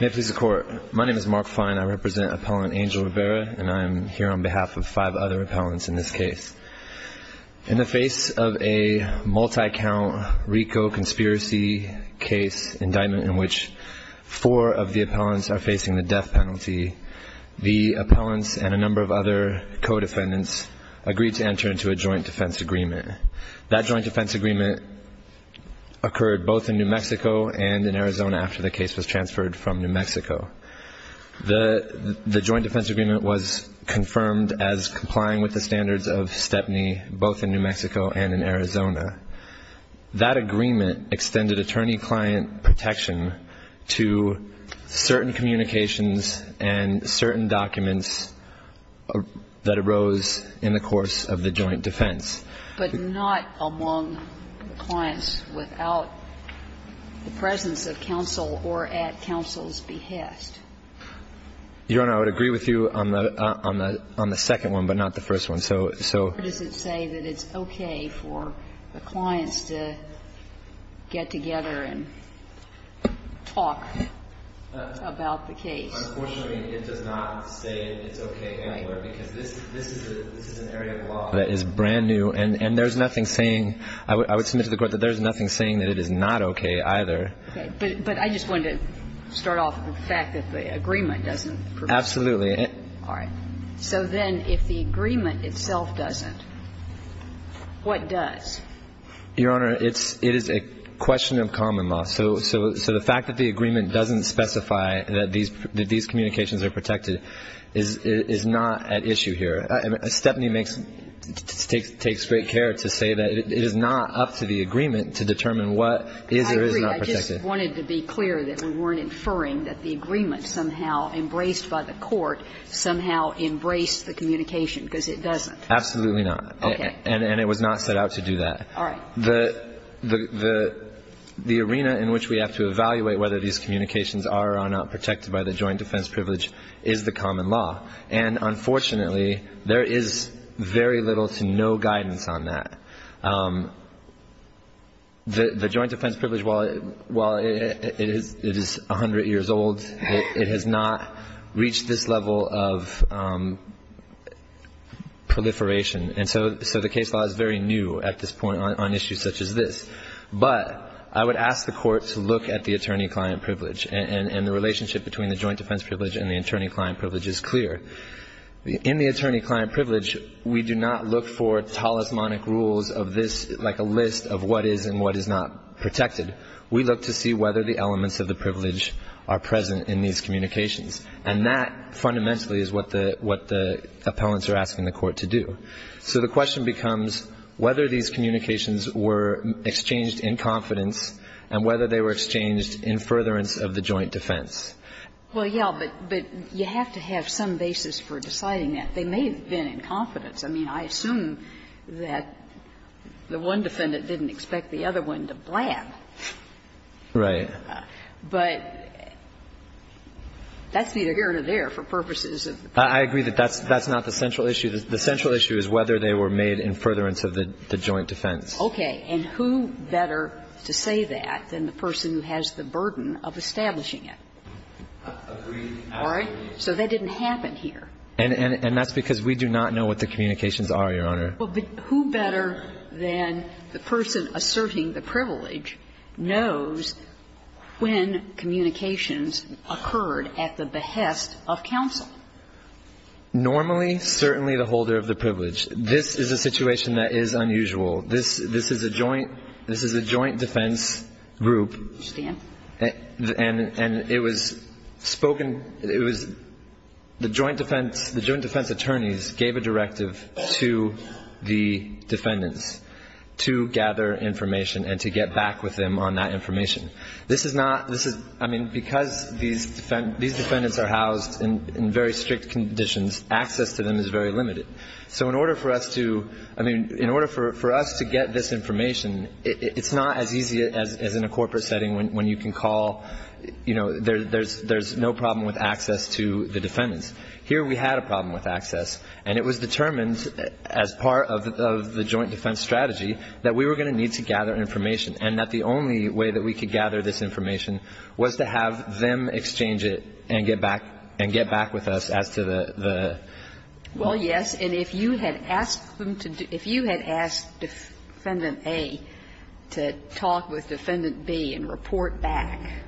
May it please the court. My name is Mark Fine. I represent appellant Angel Rivera and I'm here on behalf of five other appellants in this case. In the face of a multi- count RICO conspiracy case indictment in which four of the appellants are facing the death penalty, the appellants and a number of other co-defendants agreed to enter into a joint defense agreement. That joint defense agreement occurred both in New Mexico and in Arizona after the case was transferred from New Mexico. The the joint defense agreement was confirmed as complying with the standards of Stepney both in New Mexico and in Arizona. That agreement extended attorney- client protection to certain communications and certain documents that arose in the course of the joint defense. But not among clients without the presence of counsel or at counsel's behest. Your Honor, I would agree with you on the second one, but not the first one. So does it say that it's okay for the clients to get together and talk about the case? Unfortunately, it does not say it's okay anywhere, because this is an area of law that is brand new and there's nothing saying, I would submit to the Court that there's nothing saying that it is not okay either. Okay. But I just wanted to start off with the fact that the agreement doesn't provide. Absolutely. All right. So then if the agreement itself doesn't, what does? Your Honor, it is a question of common law. So the fact that the agreement doesn't specify that these communications are protected is not at issue here. Stepney makes, takes great care to say that it is not up to the agreement to determine what is or is not protected. I agree. I just wanted to be clear that we weren't inferring that the agreement somehow embraced by the Court somehow embraced the communication, because it doesn't. Absolutely not. Okay. And it was not set out to do that. All right. The arena in which we have to evaluate whether these communications are or are not protected by the joint defense privilege is the common law. And unfortunately, there is very little to no guidance on that. The joint defense privilege, while it is a hundred years old, it has not reached this level of proliferation. And so the case law is very new at this point on issues such as this. But I would ask the Court to look at the attorney-client privilege. And the relationship between the joint defense privilege and the attorney-client privilege is clear. In the attorney-client privilege, we do not look for talismanic rules of this, like a list of what is and what is not protected. We look to see whether the elements of the privilege are present in these communications. And that fundamentally is what the appellants are asking the Court to do. So the question becomes whether these communications were exchanged in confidence and whether they were exchanged in furtherance of the joint defense. Well, yes, but you have to have some basis for deciding that. They may have been in confidence. I mean, I assume that the one defendant didn't expect the other one to blab. Right. But that's neither here nor there for purposes of the court. I agree that that's not the central issue. The central issue is whether they were made in furtherance of the joint defense. Okay. And who better to say that than the person who has the burden of establishing it? Agreed. All right? So that didn't happen here. And that's because we do not know what the communications are, Your Honor. But who better than the person asserting the privilege knows when communications occurred at the behest of counsel? Normally, certainly the holder of the privilege. This is a situation that is unusual. This is a joint defense group. And it was spoken, it was the joint defense attorneys gave a directive to the defendants to gather information and to get back with them on that information. This is not, this is, I mean, because these defendants are housed in very strict conditions, access to them is very limited. So in order for us to, I mean, in order for us to get this information, it's not as easy as in a corporate setting when you can call, you know, there's no problem with access to the defendants. Here we had a problem with access, and it was determined as part of the joint defense strategy that we were going to need to gather information and that the only way that we could gather this information was to have them exchange it and get back, and get back with us as to the, the. Well, yes, and if you had asked them to, if you had asked Defendant A to talk with Defendant B and report back,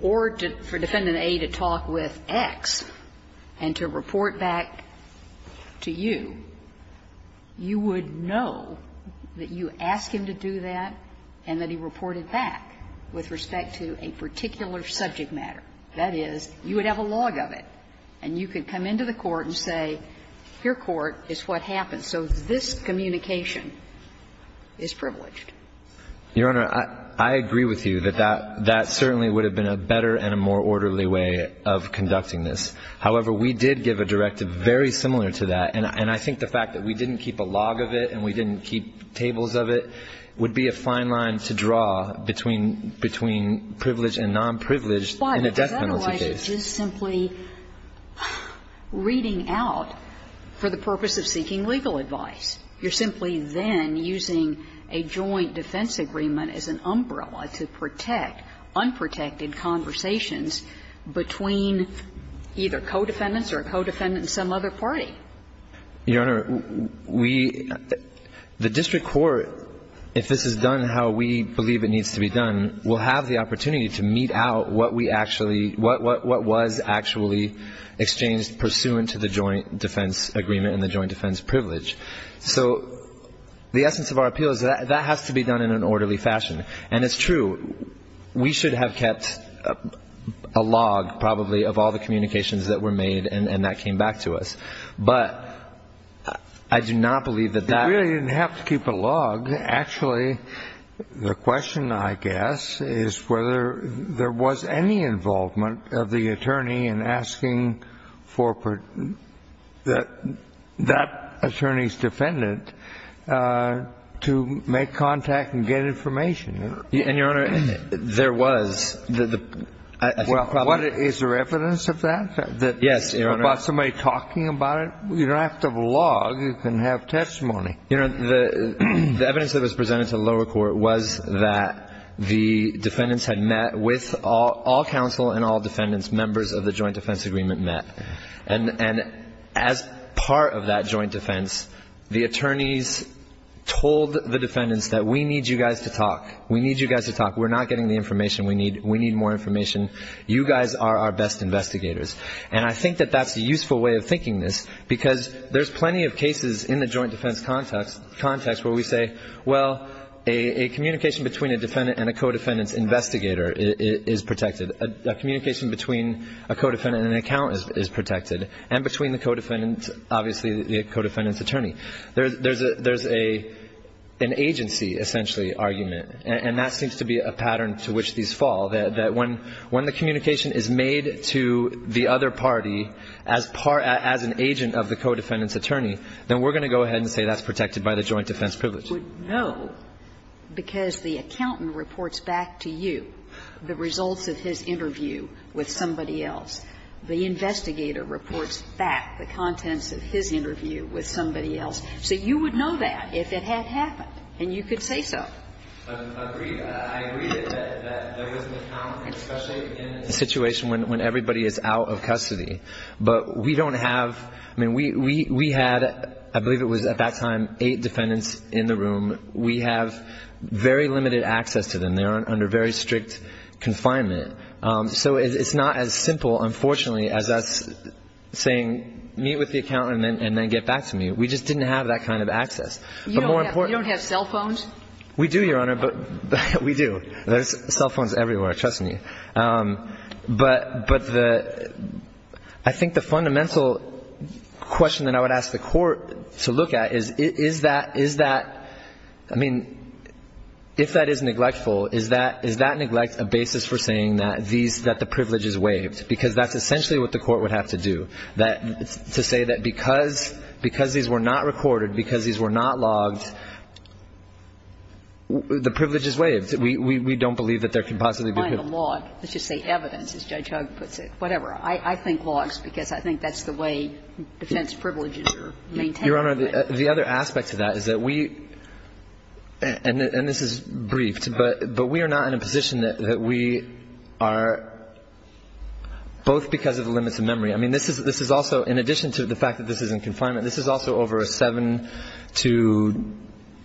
or to, for Defendant A to talk with X and to report back to you, you would know that you ask him to do that, and then you would know that he reported back with respect to a particular subject matter. That is, you would have a log of it, and you could come into the court and say, your court is what happened. So this communication is privileged. Your Honor, I agree with you that that certainly would have been a better and a more orderly way of conducting this. However, we did give a directive very similar to that, and I think the fact that we didn't keep a log of it and we didn't keep tables of it would be a fine line to draw between, between privileged and nonprivileged in a death penalty case. But otherwise, it's just simply reading out for the purpose of seeking legal advice. You're simply then using a joint defense agreement as an umbrella to protect unprotected conversations between either co-defendants or a co-defendant and some other party. Your Honor, we, the district court, if this is done how we believe it needs to be done, will have the opportunity to meet out what we actually, what, what, what was actually exchanged pursuant to the joint defense agreement and the joint defense privilege. So the essence of our appeal is that, that has to be done in an orderly fashion. And it's true, we should have kept a log probably of all the communications that were made and, and that came back to us. But I do not believe that that. You really didn't have to keep a log. Actually, the question, I guess, is whether there was any involvement of the attorney in asking for, for that, that attorney's defendant to make contact and get information. And your Honor, there was. The, the, I think probably. Well, what, is there evidence of that? That. Yes, your Honor. About somebody talking about it? You don't have to have a log, you can have testimony. Your Honor, the, the evidence that was presented to the lower court was that the defendants had met with all, all counsel and all defendants, members of the joint defense agreement met. And, and as part of that joint defense, the attorneys told the defendants that we need you guys to talk. We need you guys to talk. We're not getting the information we need. We need more information. You guys are our best investigators. And I think that that's a useful way of thinking this, because there's plenty of cases in the joint defense context, context where we say, well, a, a communication between a defendant and a co-defendant's investigator is, is protected. A, a communication between a co-defendant and an accountant is, is protected. And between the co-defendant, obviously, the co-defendant's attorney. There, there's a, there's a, an agency, essentially, argument. And, and that seems to be a pattern to which these fall. That, that when, when the communication is made to the other party as part, as an agent of the co-defendant's attorney, then we're going to go ahead and say that's protected by the joint defense privilege. We would know, because the accountant reports back to you the results of his interview with somebody else. The investigator reports back the contents of his interview with somebody else. So you would know that if it had happened, and you could say so. I agree, I agree that, that there is an account, especially in a situation when, when everybody is out of custody. But we don't have, I mean, we, we, we had, I believe it was at that time, eight defendants in the room. We have very limited access to them. They are under very strict confinement. So it's not as simple, unfortunately, as us saying, meet with the accountant and then, and then get back to me. We just didn't have that kind of access. But more importantly. You don't have, you don't have cell phones? We do, Your Honor, but, we do. There's cell phones everywhere, trust me. But, but the, I think the fundamental question that I would ask the court to look at is, is that, is that, I mean, if that is neglectful, is that, is that neglect a basis for saying that these, that the privilege is waived? Because that's essentially what the court would have to do. That, to say that because, because these were not recorded, because these were not logged, the privilege is waived. We, we, we don't believe that there can possibly be a privilege waived. The final log, let's just say evidence, as Judge Hugg puts it, whatever. I, I think logs, because I think that's the way defense privileges are maintained. Your Honor, the other aspect to that is that we, and this is briefed, but, but we are not in a position that, that we are, both because of the limits of memory. I mean, this is, this is also, in addition to the fact that this is in confinement, this is also over a 7- to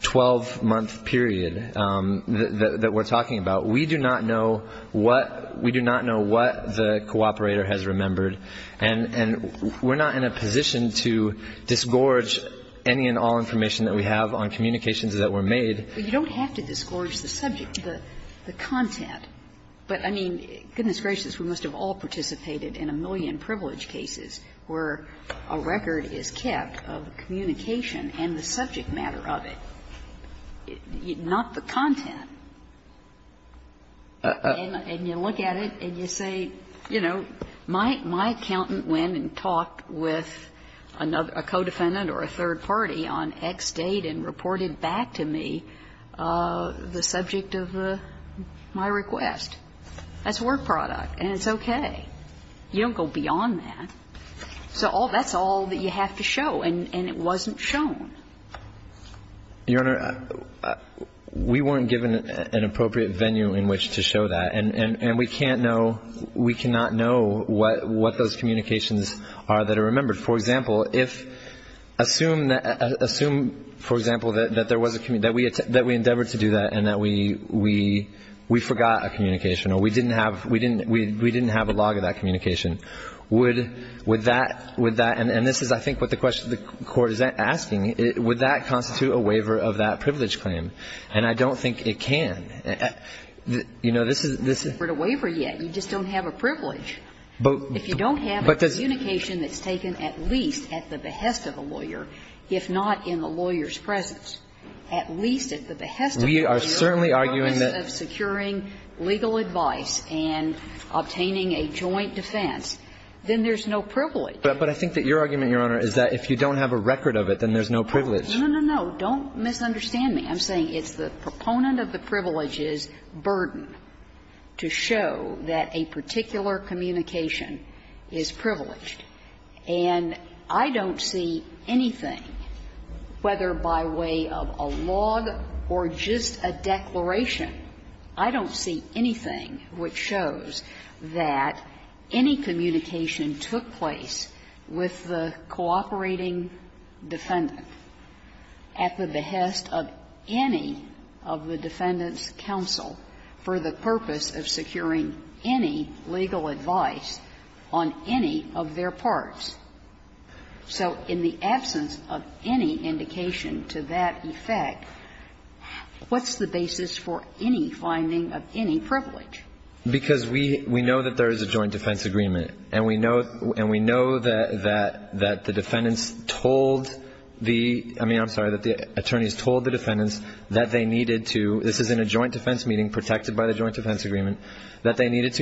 12-month period that, that we're talking about. We do not know what, we do not know what the cooperator has remembered. And, and we're not in a position to disgorge any and all information that we have on communications that were made. But you don't have to disgorge the subject, the, the content. But, I mean, goodness gracious, we must have all participated in a million privilege cases where a record is kept of communication and the subject matter of it, not the content. And, and you look at it and you say, you know, my, my accountant went and talked with another, a co-defendant or a third party on X date and reported back to me the subject of my request. That's a work product, and it's okay. You don't go beyond that. So all, that's all that you have to show, and, and it wasn't shown. Your Honor, we weren't given an appropriate venue in which to show that. And, and, and we can't know, we cannot know what, what those communications are that are remembered. For example, if, assume, assume, for example, that, that there was a, that we, that we endeavored to do that and that we, we, we forgot a communication or we didn't have, we didn't, we, we didn't have a log of that communication, would, would that, would that, and, and this is, I think, what the question, the Court is asking, would that constitute a waiver of that privilege claim? And I don't think it can. You know, this is, this is the way for you, you just don't have a privilege. If you don't have a communication that's taken at least at the behest of a lawyer, if not in the lawyer's presence, at least at the behest of a lawyer. And if you're in the process of securing legal advice and obtaining a joint defense, then there's no privilege. But I think that your argument, Your Honor, is that if you don't have a record of it, then there's no privilege. No, no, no. Don't misunderstand me. I'm saying it's the proponent of the privilege's burden to show that a particular communication is privileged. And I don't see anything, whether by way of a log or just a declaration, I don't see anything which shows that any communication took place with the cooperating defendant at the behest of any of the defendant's counsel for the purpose of securing any legal advice on any of their parts. So in the absence of any indication to that effect, what's the basis for any finding of any privilege? Because we know that there is a joint defense agreement, and we know that the defendants told the – I mean, I'm sorry, that the attorneys told the defendants that they needed to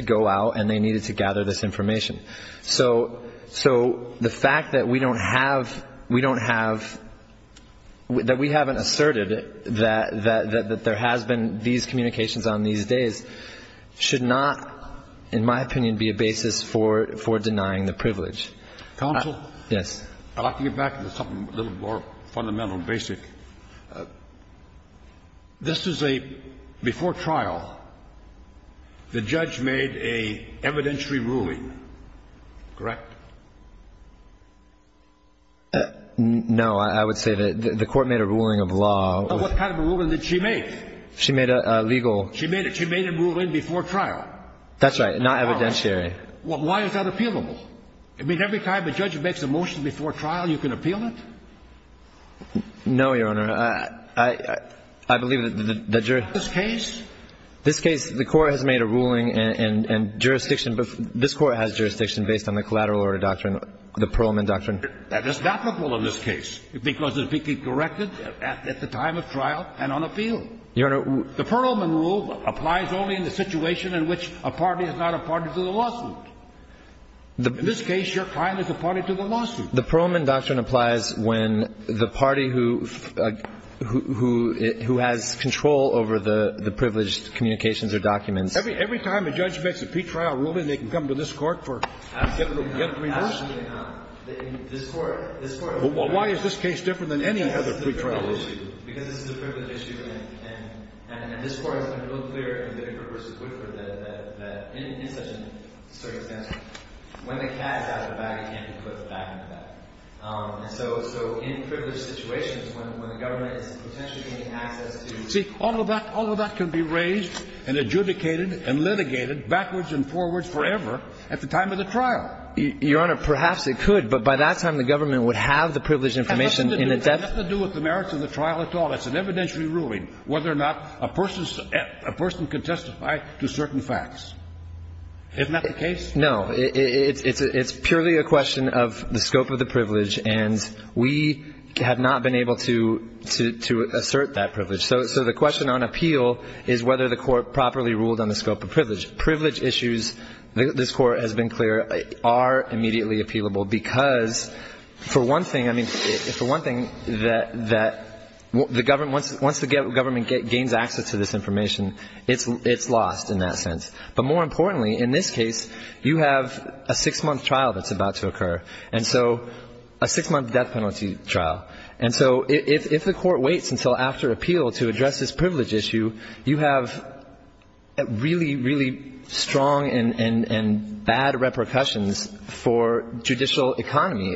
go out and they needed to gather this information. So the fact that we don't have – we don't have – that we haven't asserted that there has been these communications on these days should not, in my opinion, be a basis for denying the privilege. Counsel? Yes. I'd like to get back to something a little more fundamental and basic. This is a – before trial, the judge made a evidentiary ruling, correct? No. I would say that the Court made a ruling of law. What kind of a ruling did she make? She made a legal – She made a ruling before trial. That's right, not evidentiary. Why is that appealable? I mean, every time a judge makes a motion before trial, you can appeal it? No, Your Honor. I believe that the – In this case? In this case, the Court has made a ruling and jurisdiction – this Court has jurisdiction based on the collateral order doctrine, the Perlman doctrine. That is not applicable in this case because it would be corrected at the time of trial and on a field. Your Honor – The Perlman rule applies only in the situation in which a party is not a party to the lawsuit. In this case, your client is a party to the lawsuit. The Perlman doctrine applies when the party who has control over the privileged communications or documents – Every time a judge makes a pre-trial ruling, they can come to this Court for – Absolutely not. Absolutely not. In this Court – Well, why is this case different than any other pre-trial ruling? Because this is a privilege issue, and this Court has been real clear in Vickers v. Woodford that in such a circumstance, when the cat is out of the bag, it can't be put back in the bag. And so in privileged situations, when the government is potentially gaining access to – See, all of that – all of that can be raised and adjudicated and litigated backwards and forwards forever at the time of the trial. Your Honor, perhaps it could, but by that time, the government would have the privileged information in its – It has nothing to do – it has nothing to do with the merits of the trial at all. It's an evidentiary ruling whether or not a person – a person can testify to certain facts. Isn't that the case? No. It's purely a question of the scope of the privilege, and we have not been able to assert that privilege. So the question on appeal is whether the Court properly ruled on the scope of privilege. Privilege issues, this Court has been clear, are immediately appealable because, for one thing – once the government gains access to this information, it's lost in that sense. But more importantly, in this case, you have a six-month trial that's about to occur, and so – a six-month death penalty trial. And so if the Court waits until after appeal to address this privilege issue, you have really, really strong and bad repercussions for judicial economy.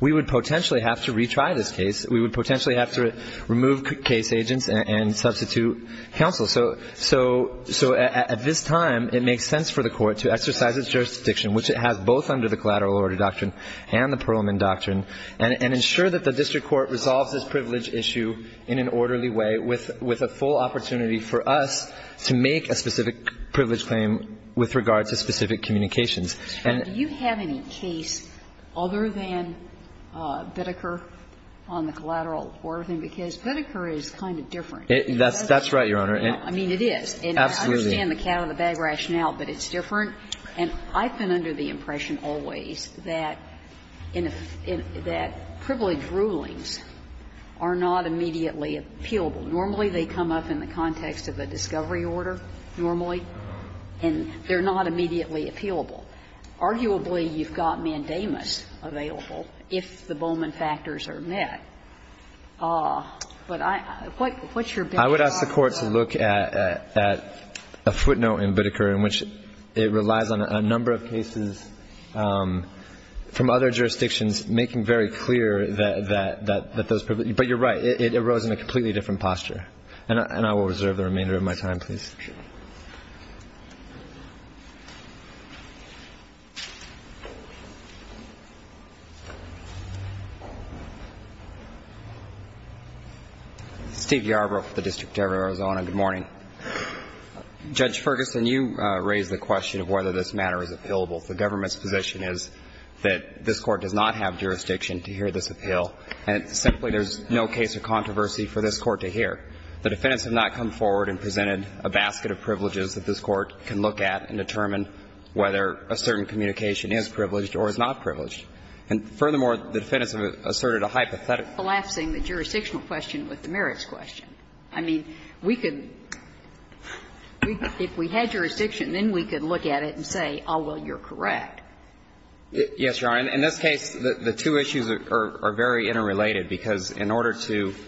We would potentially have to retry this case. We would potentially have to remove case agents and substitute counsel. So at this time, it makes sense for the Court to exercise its jurisdiction, which it has both under the Collateral Order Doctrine and the Perelman Doctrine, and ensure that the district court resolves this privilege issue in an orderly way with a full opportunity for us to make a specific privilege claim with regard to specific communications. And do you have any case other than Biddeker on the collateral order thing? Because Biddeker is kind of different. That's right, Your Honor. I mean, it is. Absolutely. And I understand the cat out of the bag rationale, but it's different. And I've been under the impression always that in a – that privilege rulings are not immediately appealable. Normally, they come up in the context of a discovery order, normally, and they're not immediately appealable. Arguably, you've got mandamus available if the Bowman factors are met. But I – what's your bet on that? I would ask the Court to look at a footnote in Biddeker in which it relies on a number of cases from other jurisdictions making very clear that those privileges – but you're right. It arose in a completely different posture. And I will reserve the remainder of my time, please. Steve Yarbrough with the District Judge of Arizona. Good morning. Judge Ferguson, you raised the question of whether this matter is appealable. The government's position is that this Court does not have jurisdiction to hear this appeal. And simply, there's no case of controversy for this Court to hear. The defendants have not come forward and presented a basket of privileges that this Court can look at and determine whether a certain communication is privileged or is not privileged. And furthermore, the defendants have asserted a hypothetical. Collapsing the jurisdictional question with the merits question. I mean, we could – if we had jurisdiction, then we could look at it and say, oh, well, you're correct. Yes, Your Honor. In this case, the two issues are very interrelated, because in order to –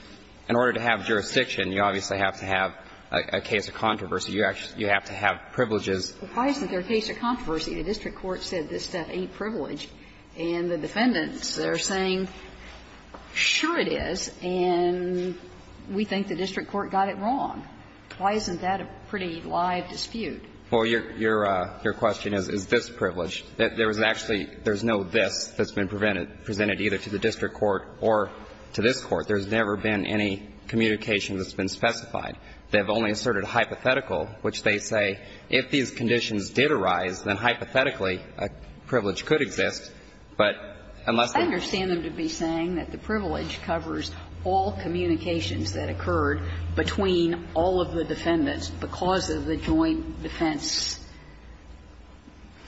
in order to have jurisdiction, you obviously have to have a case of controversy. You have to have privileges. Well, why isn't there a case of controversy? The district court said this stuff ain't privileged. And the defendants are saying, sure it is, and we think the district court got it wrong. Why isn't that a pretty live dispute? Well, your question is, is this privileged? There was actually – there's no this that's been presented either to the district court or to this Court. There's never been any communication that's been specified. They've only asserted hypothetical, which they say, if these conditions did arise, then hypothetically a privilege could exist, but unless they – I understand them to be saying that the privilege covers all communications that occurred between all of the defendants because of the joint defense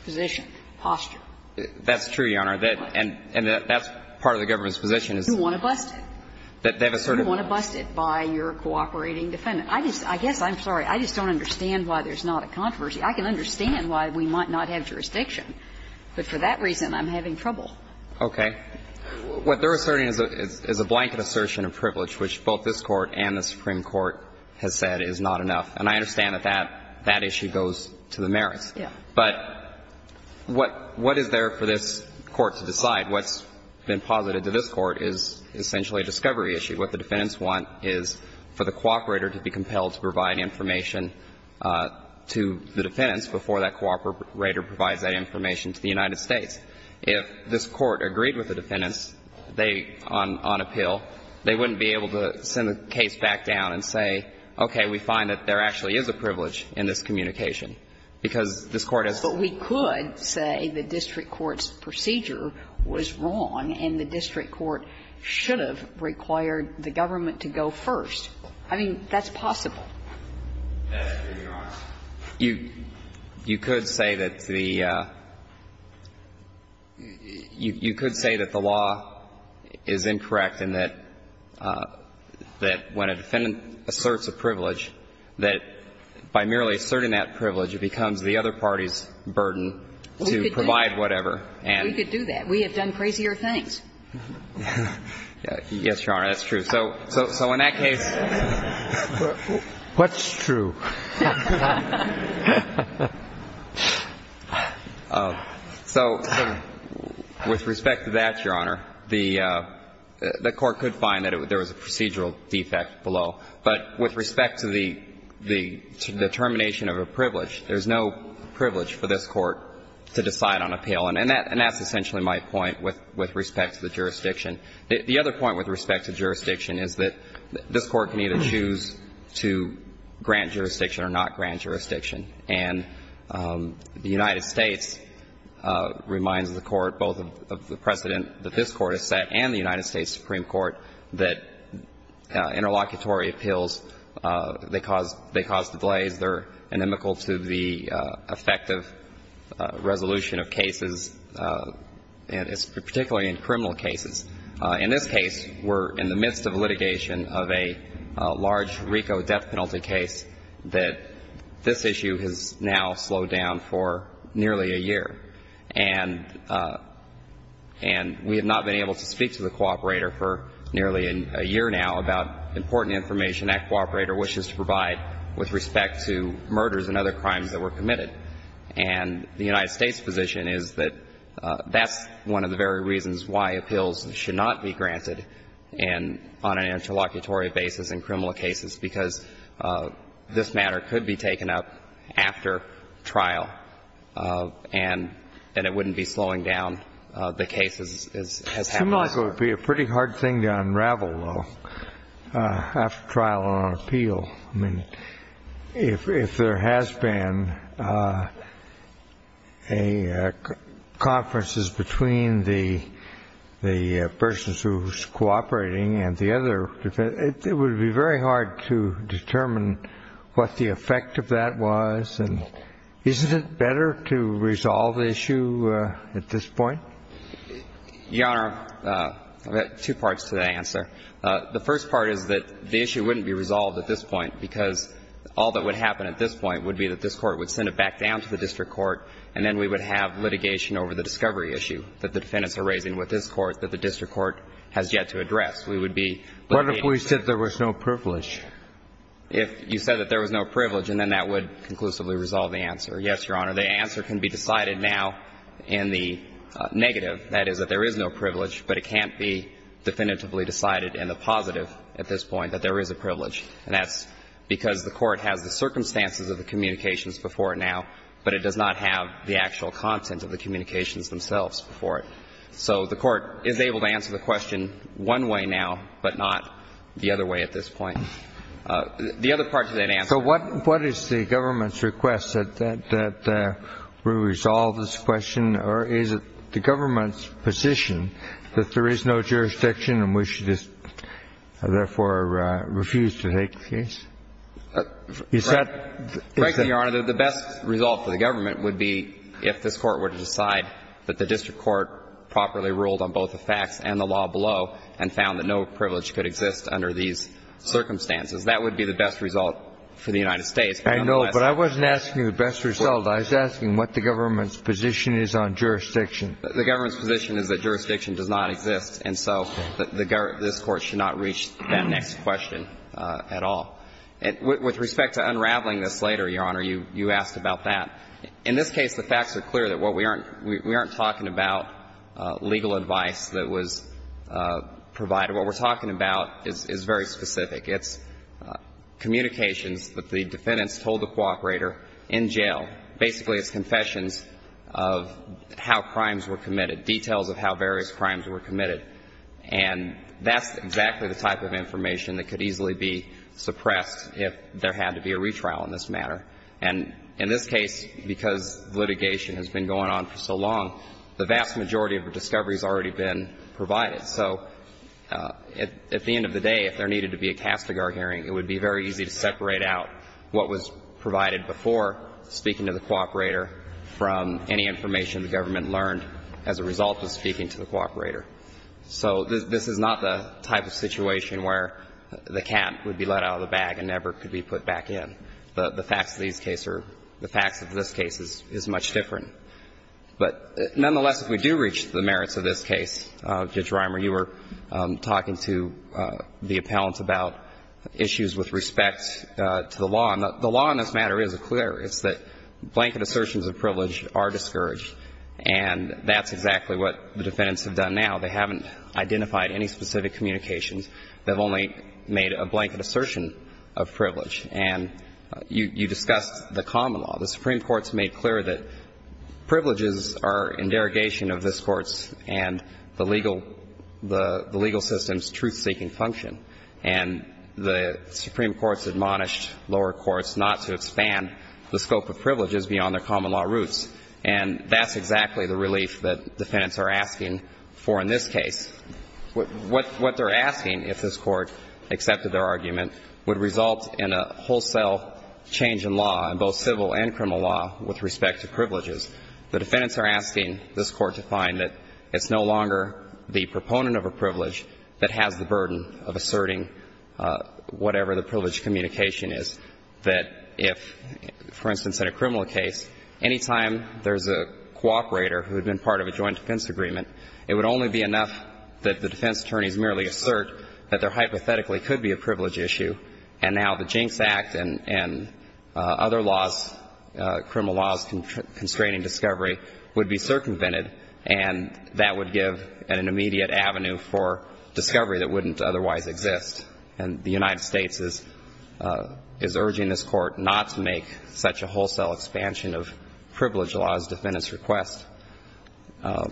position, posture. That's true, Your Honor. And that's part of the government's position. You want to bust it. They've asserted that. You want to bust it by your cooperating defendant. I just – I guess I'm sorry. I just don't understand why there's not a controversy. I can understand why we might not have jurisdiction, but for that reason I'm having trouble. Okay. What they're asserting is a blanket assertion of privilege, which both this Court and the Supreme Court has said is not enough. And I understand that that issue goes to the merits. Yeah. But what is there for this Court to decide? What's been posited to this Court is essentially a discovery issue. What the defendants want is for the cooperator to be compelled to provide information to the defendants before that cooperator provides that information to the United States. If this Court agreed with the defendants, they, on appeal, they wouldn't be able to send the case back down and say, okay, we find that there actually is a privilege in this communication, because this Court has said that. I mean, we can't just say that the District Court's procedure was wrong and the District Court should have required the government to go first. I mean, that's possible. Yes, Your Honor. You could say that the – you could say that the law is incorrect and that when a defendant asserts a privilege, that by merely asserting that privilege, it becomes the other party's burden to provide whatever. We could do that. We have done crazier things. Yes, Your Honor, that's true. So in that case – What's true? So with respect to that, Your Honor, the Court could find that there was a procedural defect below. But with respect to the determination of a privilege, there's no privilege for this Court to decide on appeal. And that's essentially my point with respect to the jurisdiction. The other point with respect to jurisdiction is that this Court can either choose to grant jurisdiction or not grant jurisdiction. And the United States reminds the Court both of the precedent that this Court has set and the United States Supreme Court that interlocutory appeals, they cause delays. They're inimical to the effective resolution of cases, particularly in criminal cases. In this case, we're in the midst of litigation of a large RICO death penalty case that this issue has now slowed down for nearly a year. And we have not been able to speak to the cooperator for nearly a year now about important information that cooperator wishes to provide with respect to murders and other crimes that were committed. And the United States' position is that that's one of the very reasons why appeals should not be granted on an interlocutory basis in criminal cases, because this matter could be taken up after trial. And it wouldn't be slowing down. The case has happened. It would be a pretty hard thing to unravel, though, after trial on an appeal. I mean, if there has been a conference between the person who's cooperating and the other defense, it would be very hard to determine what the effect of that was. And isn't it better to resolve the issue at this point? Your Honor, I've got two parts to the answer. The first part is that the issue wouldn't be resolved at this point, because all that would happen at this point would be that this Court would send it back down to the district court, and then we would have litigation over the discovery issue that the defendants are raising with this Court that the district court has yet to address. We would be litigating. What if we said there was no privilege? If you said that there was no privilege, and then that would conclusively resolve the answer. Yes, Your Honor, the answer can be decided now in the negative, that is, that there is no privilege, but it can't be definitively decided in the positive at this point that there is a privilege. And that's because the Court has the circumstances of the communications before it now, but it does not have the actual content of the communications themselves before it. So the Court is able to answer the question one way now, but not the other way at this point. The other part to that answer. So what is the government's request, that we resolve this question, or is it the government's position that there is no jurisdiction and we should just therefore refuse to take the case? Is that? Frankly, Your Honor, the best result for the government would be if this Court were to decide that the district court properly ruled on both the facts and the law below and found that no privilege could exist under these circumstances. That would be the best result for the United States. I know, but I wasn't asking you the best result. I was asking what the government's position is on jurisdiction. The government's position is that jurisdiction does not exist, and so this Court should not reach that next question at all. With respect to unraveling this later, Your Honor, you asked about that. In this case, the facts are clear that we aren't talking about legal advice that was provided. What we're talking about is very specific. It's communications that the defendants told the cooperator in jail. Basically, it's confessions of how crimes were committed, details of how various crimes were committed. And that's exactly the type of information that could easily be suppressed if there had to be a retrial in this matter. And in this case, because litigation has been going on for so long, the vast majority of discovery has already been provided. So at the end of the day, if there needed to be a Castigar hearing, it would be very easy to separate out what was provided before speaking to the cooperator from any information the government learned as a result of speaking to the cooperator. So this is not the type of situation where the cat would be let out of the bag and never could be put back in. The facts of these cases are the facts of this case is much different. But nonetheless, if we do reach the merits of this case, Judge Reimer, you were talking to the appellant about issues with respect to the law. And the law in this matter is clear. It's that blanket assertions of privilege are discouraged. And that's exactly what the defendants have done now. They haven't identified any specific communications that have only made a blanket assertion of privilege. And you discussed the common law. The Supreme Court's made clear that privileges are in derogation of this Court's and the legal system's truth-seeking function. And the Supreme Court's admonished lower courts not to expand the scope of privileges beyond their common law roots. And that's exactly the relief that defendants are asking for in this case. What they're asking, if this Court accepted their argument, would result in a wholesale change in law, in both civil and criminal law, with respect to privileges. The defendants are asking this Court to find that it's no longer the proponent of a privilege that has the burden of asserting whatever the privilege communication is, that if, for instance, in a criminal case, anytime there's a cooperator who had been part of a joint defense agreement, it would only be enough that the defense attorneys merely assert that there hypothetically could be a privilege issue, and that now the Jinks Act and other laws, criminal laws constraining discovery, would be circumvented, and that would give an immediate avenue for discovery that wouldn't otherwise exist. And the United States is urging this Court not to make such a wholesale expansion of privilege laws, defendants request. I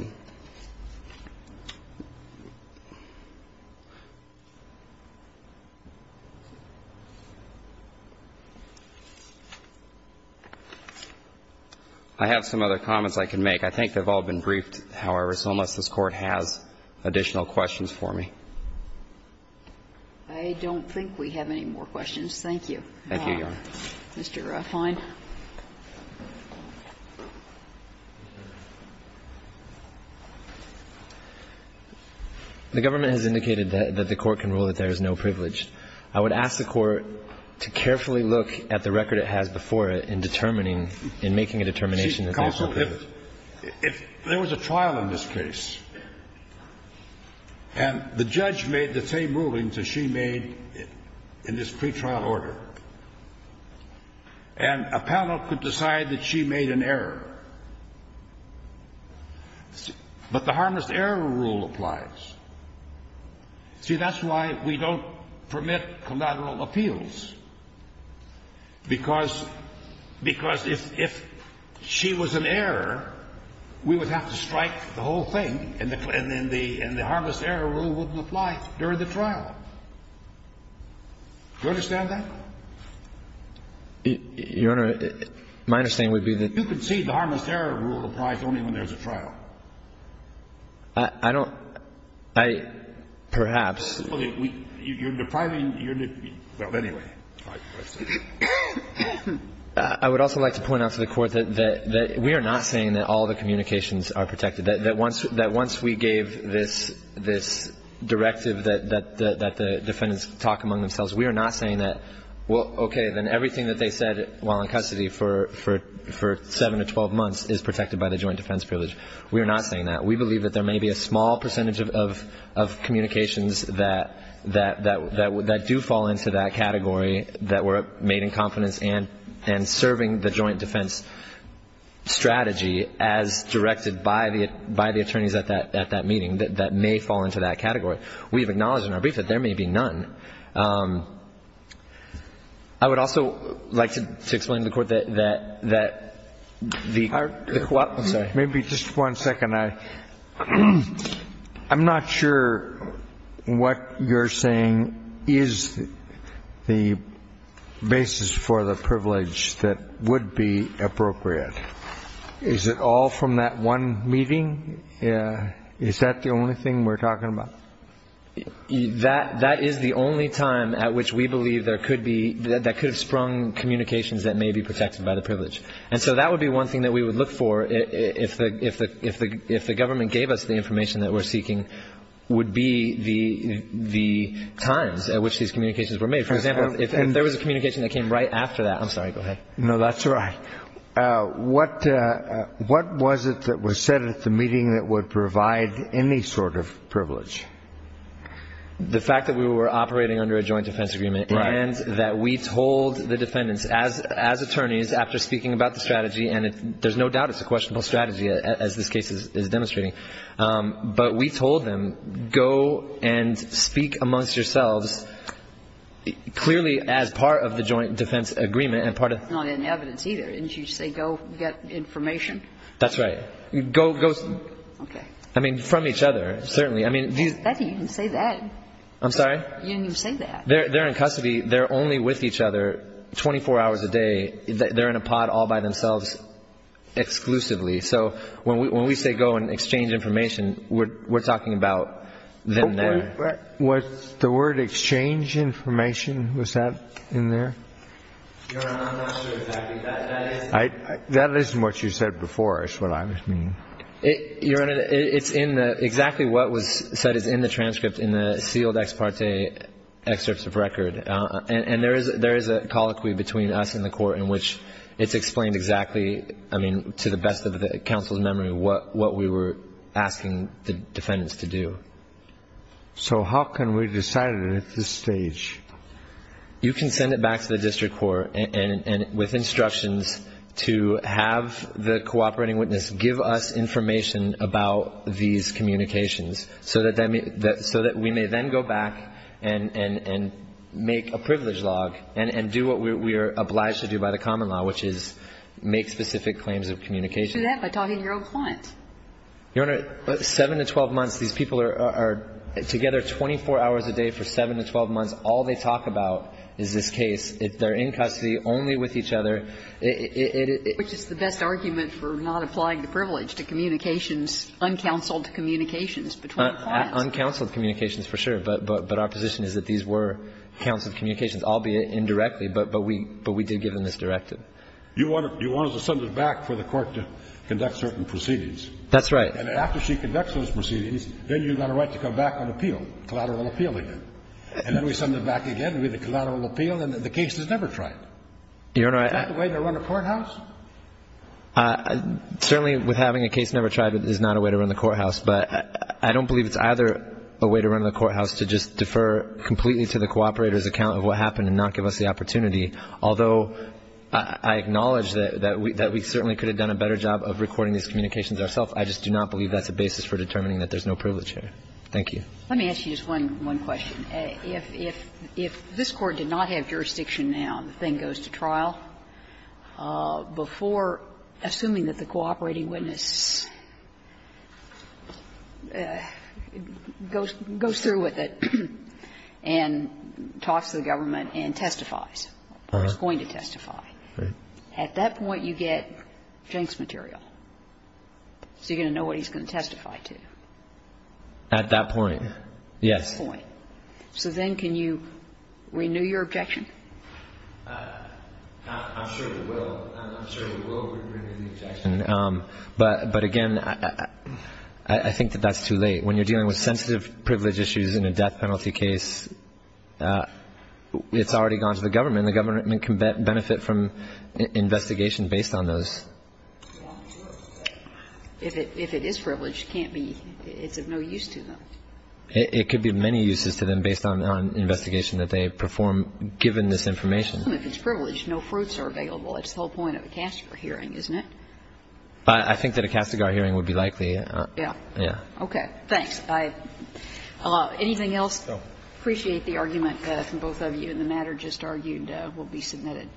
have some other comments I can make. I think they've all been briefed, however. So unless this Court has additional questions for me. I don't think we have any more questions. Thank you. Thank you, Your Honor. Mr. Ruffine. The government has indicated that the Court can rule that there is no privilege. I would ask the Court to carefully look at the record it has before it in determining and making a determination that there is no privilege. Counsel, if there was a trial in this case and the judge made the same rulings as she made in this pretrial order, and a panel could decide that she made an error, but the harmless error rule applies. See, that's why we don't permit collateral appeals, because if she was an error, we would have to strike the whole thing, and the harmless error rule wouldn't apply during the trial. Do you understand that? Your Honor, my understanding would be that you could see the harmless error rule applies only when there's a trial. I don't – I – perhaps. Okay. You're depriving – well, anyway. I would also like to point out to the Court that we are not saying that all the communications are protected. That once we gave this directive that the defendants talk among themselves, we are not saying that, well, okay, then everything that they said while in custody for seven to 12 months is protected by the joint defense privilege. We are not saying that. We believe that there may be a small percentage of communications that do fall into that category, that were made in confidence and serving the joint defense strategy as directed by the attorneys at that meeting, that may fall into that category. We have acknowledged in our brief that there may be none. I would also like to explain to the Court that the – I'm sorry. Maybe just one second. I'm not sure what you're saying is the basis for the privilege that would be appropriate. Is it all from that one meeting? Is that the only thing we're talking about? That is the only time at which we believe there could be – that could have sprung communications that may be protected by the privilege. And so that would be one thing that we would look for if the government gave us the information that we're seeking would be the times at which these communications were made. For example, if there was a communication that came right after that – I'm sorry, go ahead. No, that's all right. What was it that was said at the meeting that would provide any sort of privilege? The fact that we were operating under a joint defense agreement. Right. And that we told the defendants as attorneys after speaking about the strategy, and there's no doubt it's a questionable strategy as this case is demonstrating, but we told them go and speak amongst yourselves clearly as part of the joint defense agreement. It's not in the evidence either. Didn't you say go get information? That's right. Go, go. Okay. I mean, from each other, certainly. I mean, do you – You didn't even say that. I'm sorry? You didn't even say that. They're in custody. They're only with each other 24 hours a day. They're in a pod all by themselves exclusively. So when we say go and exchange information, we're talking about them there. Was the word exchange information, was that in there? Your Honor, I'm not sure exactly. That isn't what you said before is what I was meaning. Your Honor, it's in the – exactly what was said is in the transcript in the sealed ex parte excerpts of record. And there is a colloquy between us and the court in which it's explained exactly, I mean, to the best of the counsel's memory, what we were asking the defendants to do. So how can we decide it at this stage? You can send it back to the district court with instructions to have the cooperating witness give us information about these communications so that we may then go back and make a privilege log and do what we are obliged to do by the common law, which is make specific claims of communication. You can do that by talking to your own client. Your Honor, 7 to 12 months, these people are together 24 hours a day for 7 to 12 months. All they talk about is this case. They're in custody only with each other. Which is the best argument for not applying the privilege to communications, uncounseled communications between clients. Uncounseled communications, for sure. But our position is that these were counseled communications, albeit indirectly, but we did give them this directive. You wanted to send it back for the court to conduct certain proceedings. That's right. And after she conducts those proceedings, then you've got a right to come back and appeal, collateral appeal again. And then we send them back again with a collateral appeal and the case is never tried. Is that the way to run a courthouse? Certainly with having a case never tried is not a way to run the courthouse. But I don't believe it's either a way to run the courthouse to just defer completely to the cooperator's account of what happened and not give us the opportunity. Although I acknowledge that we certainly could have done a better job of recording these communications ourselves, I just do not believe that's a basis for determining that there's no privilege here. Thank you. Let me ask you just one question. If this Court did not have jurisdiction now and the thing goes to trial, before assuming that the cooperating witness goes through with it and talks to the government and testifies, or is going to testify, at that point you get Jenks material. So you're going to know what he's going to testify to. At that point, yes. At that point. So then can you renew your objection? I'm sure we will. I'm sure we will renew the objection. But, again, I think that that's too late. When you're dealing with sensitive privilege issues in a death penalty case, it's already gone to the government. The government can benefit from investigation based on those. If it is privileged, can't be. It's of no use to them. It could be of many uses to them based on the investigation that they perform given this information. Even if it's privileged, no fruits are available. It's the whole point of a Castigar hearing, isn't it? I think that a Castigar hearing would be likely. Yeah. Yeah. Okay. Thanks. Anything else? No. Appreciate the argument from both of you. And the matter just argued will be submitted.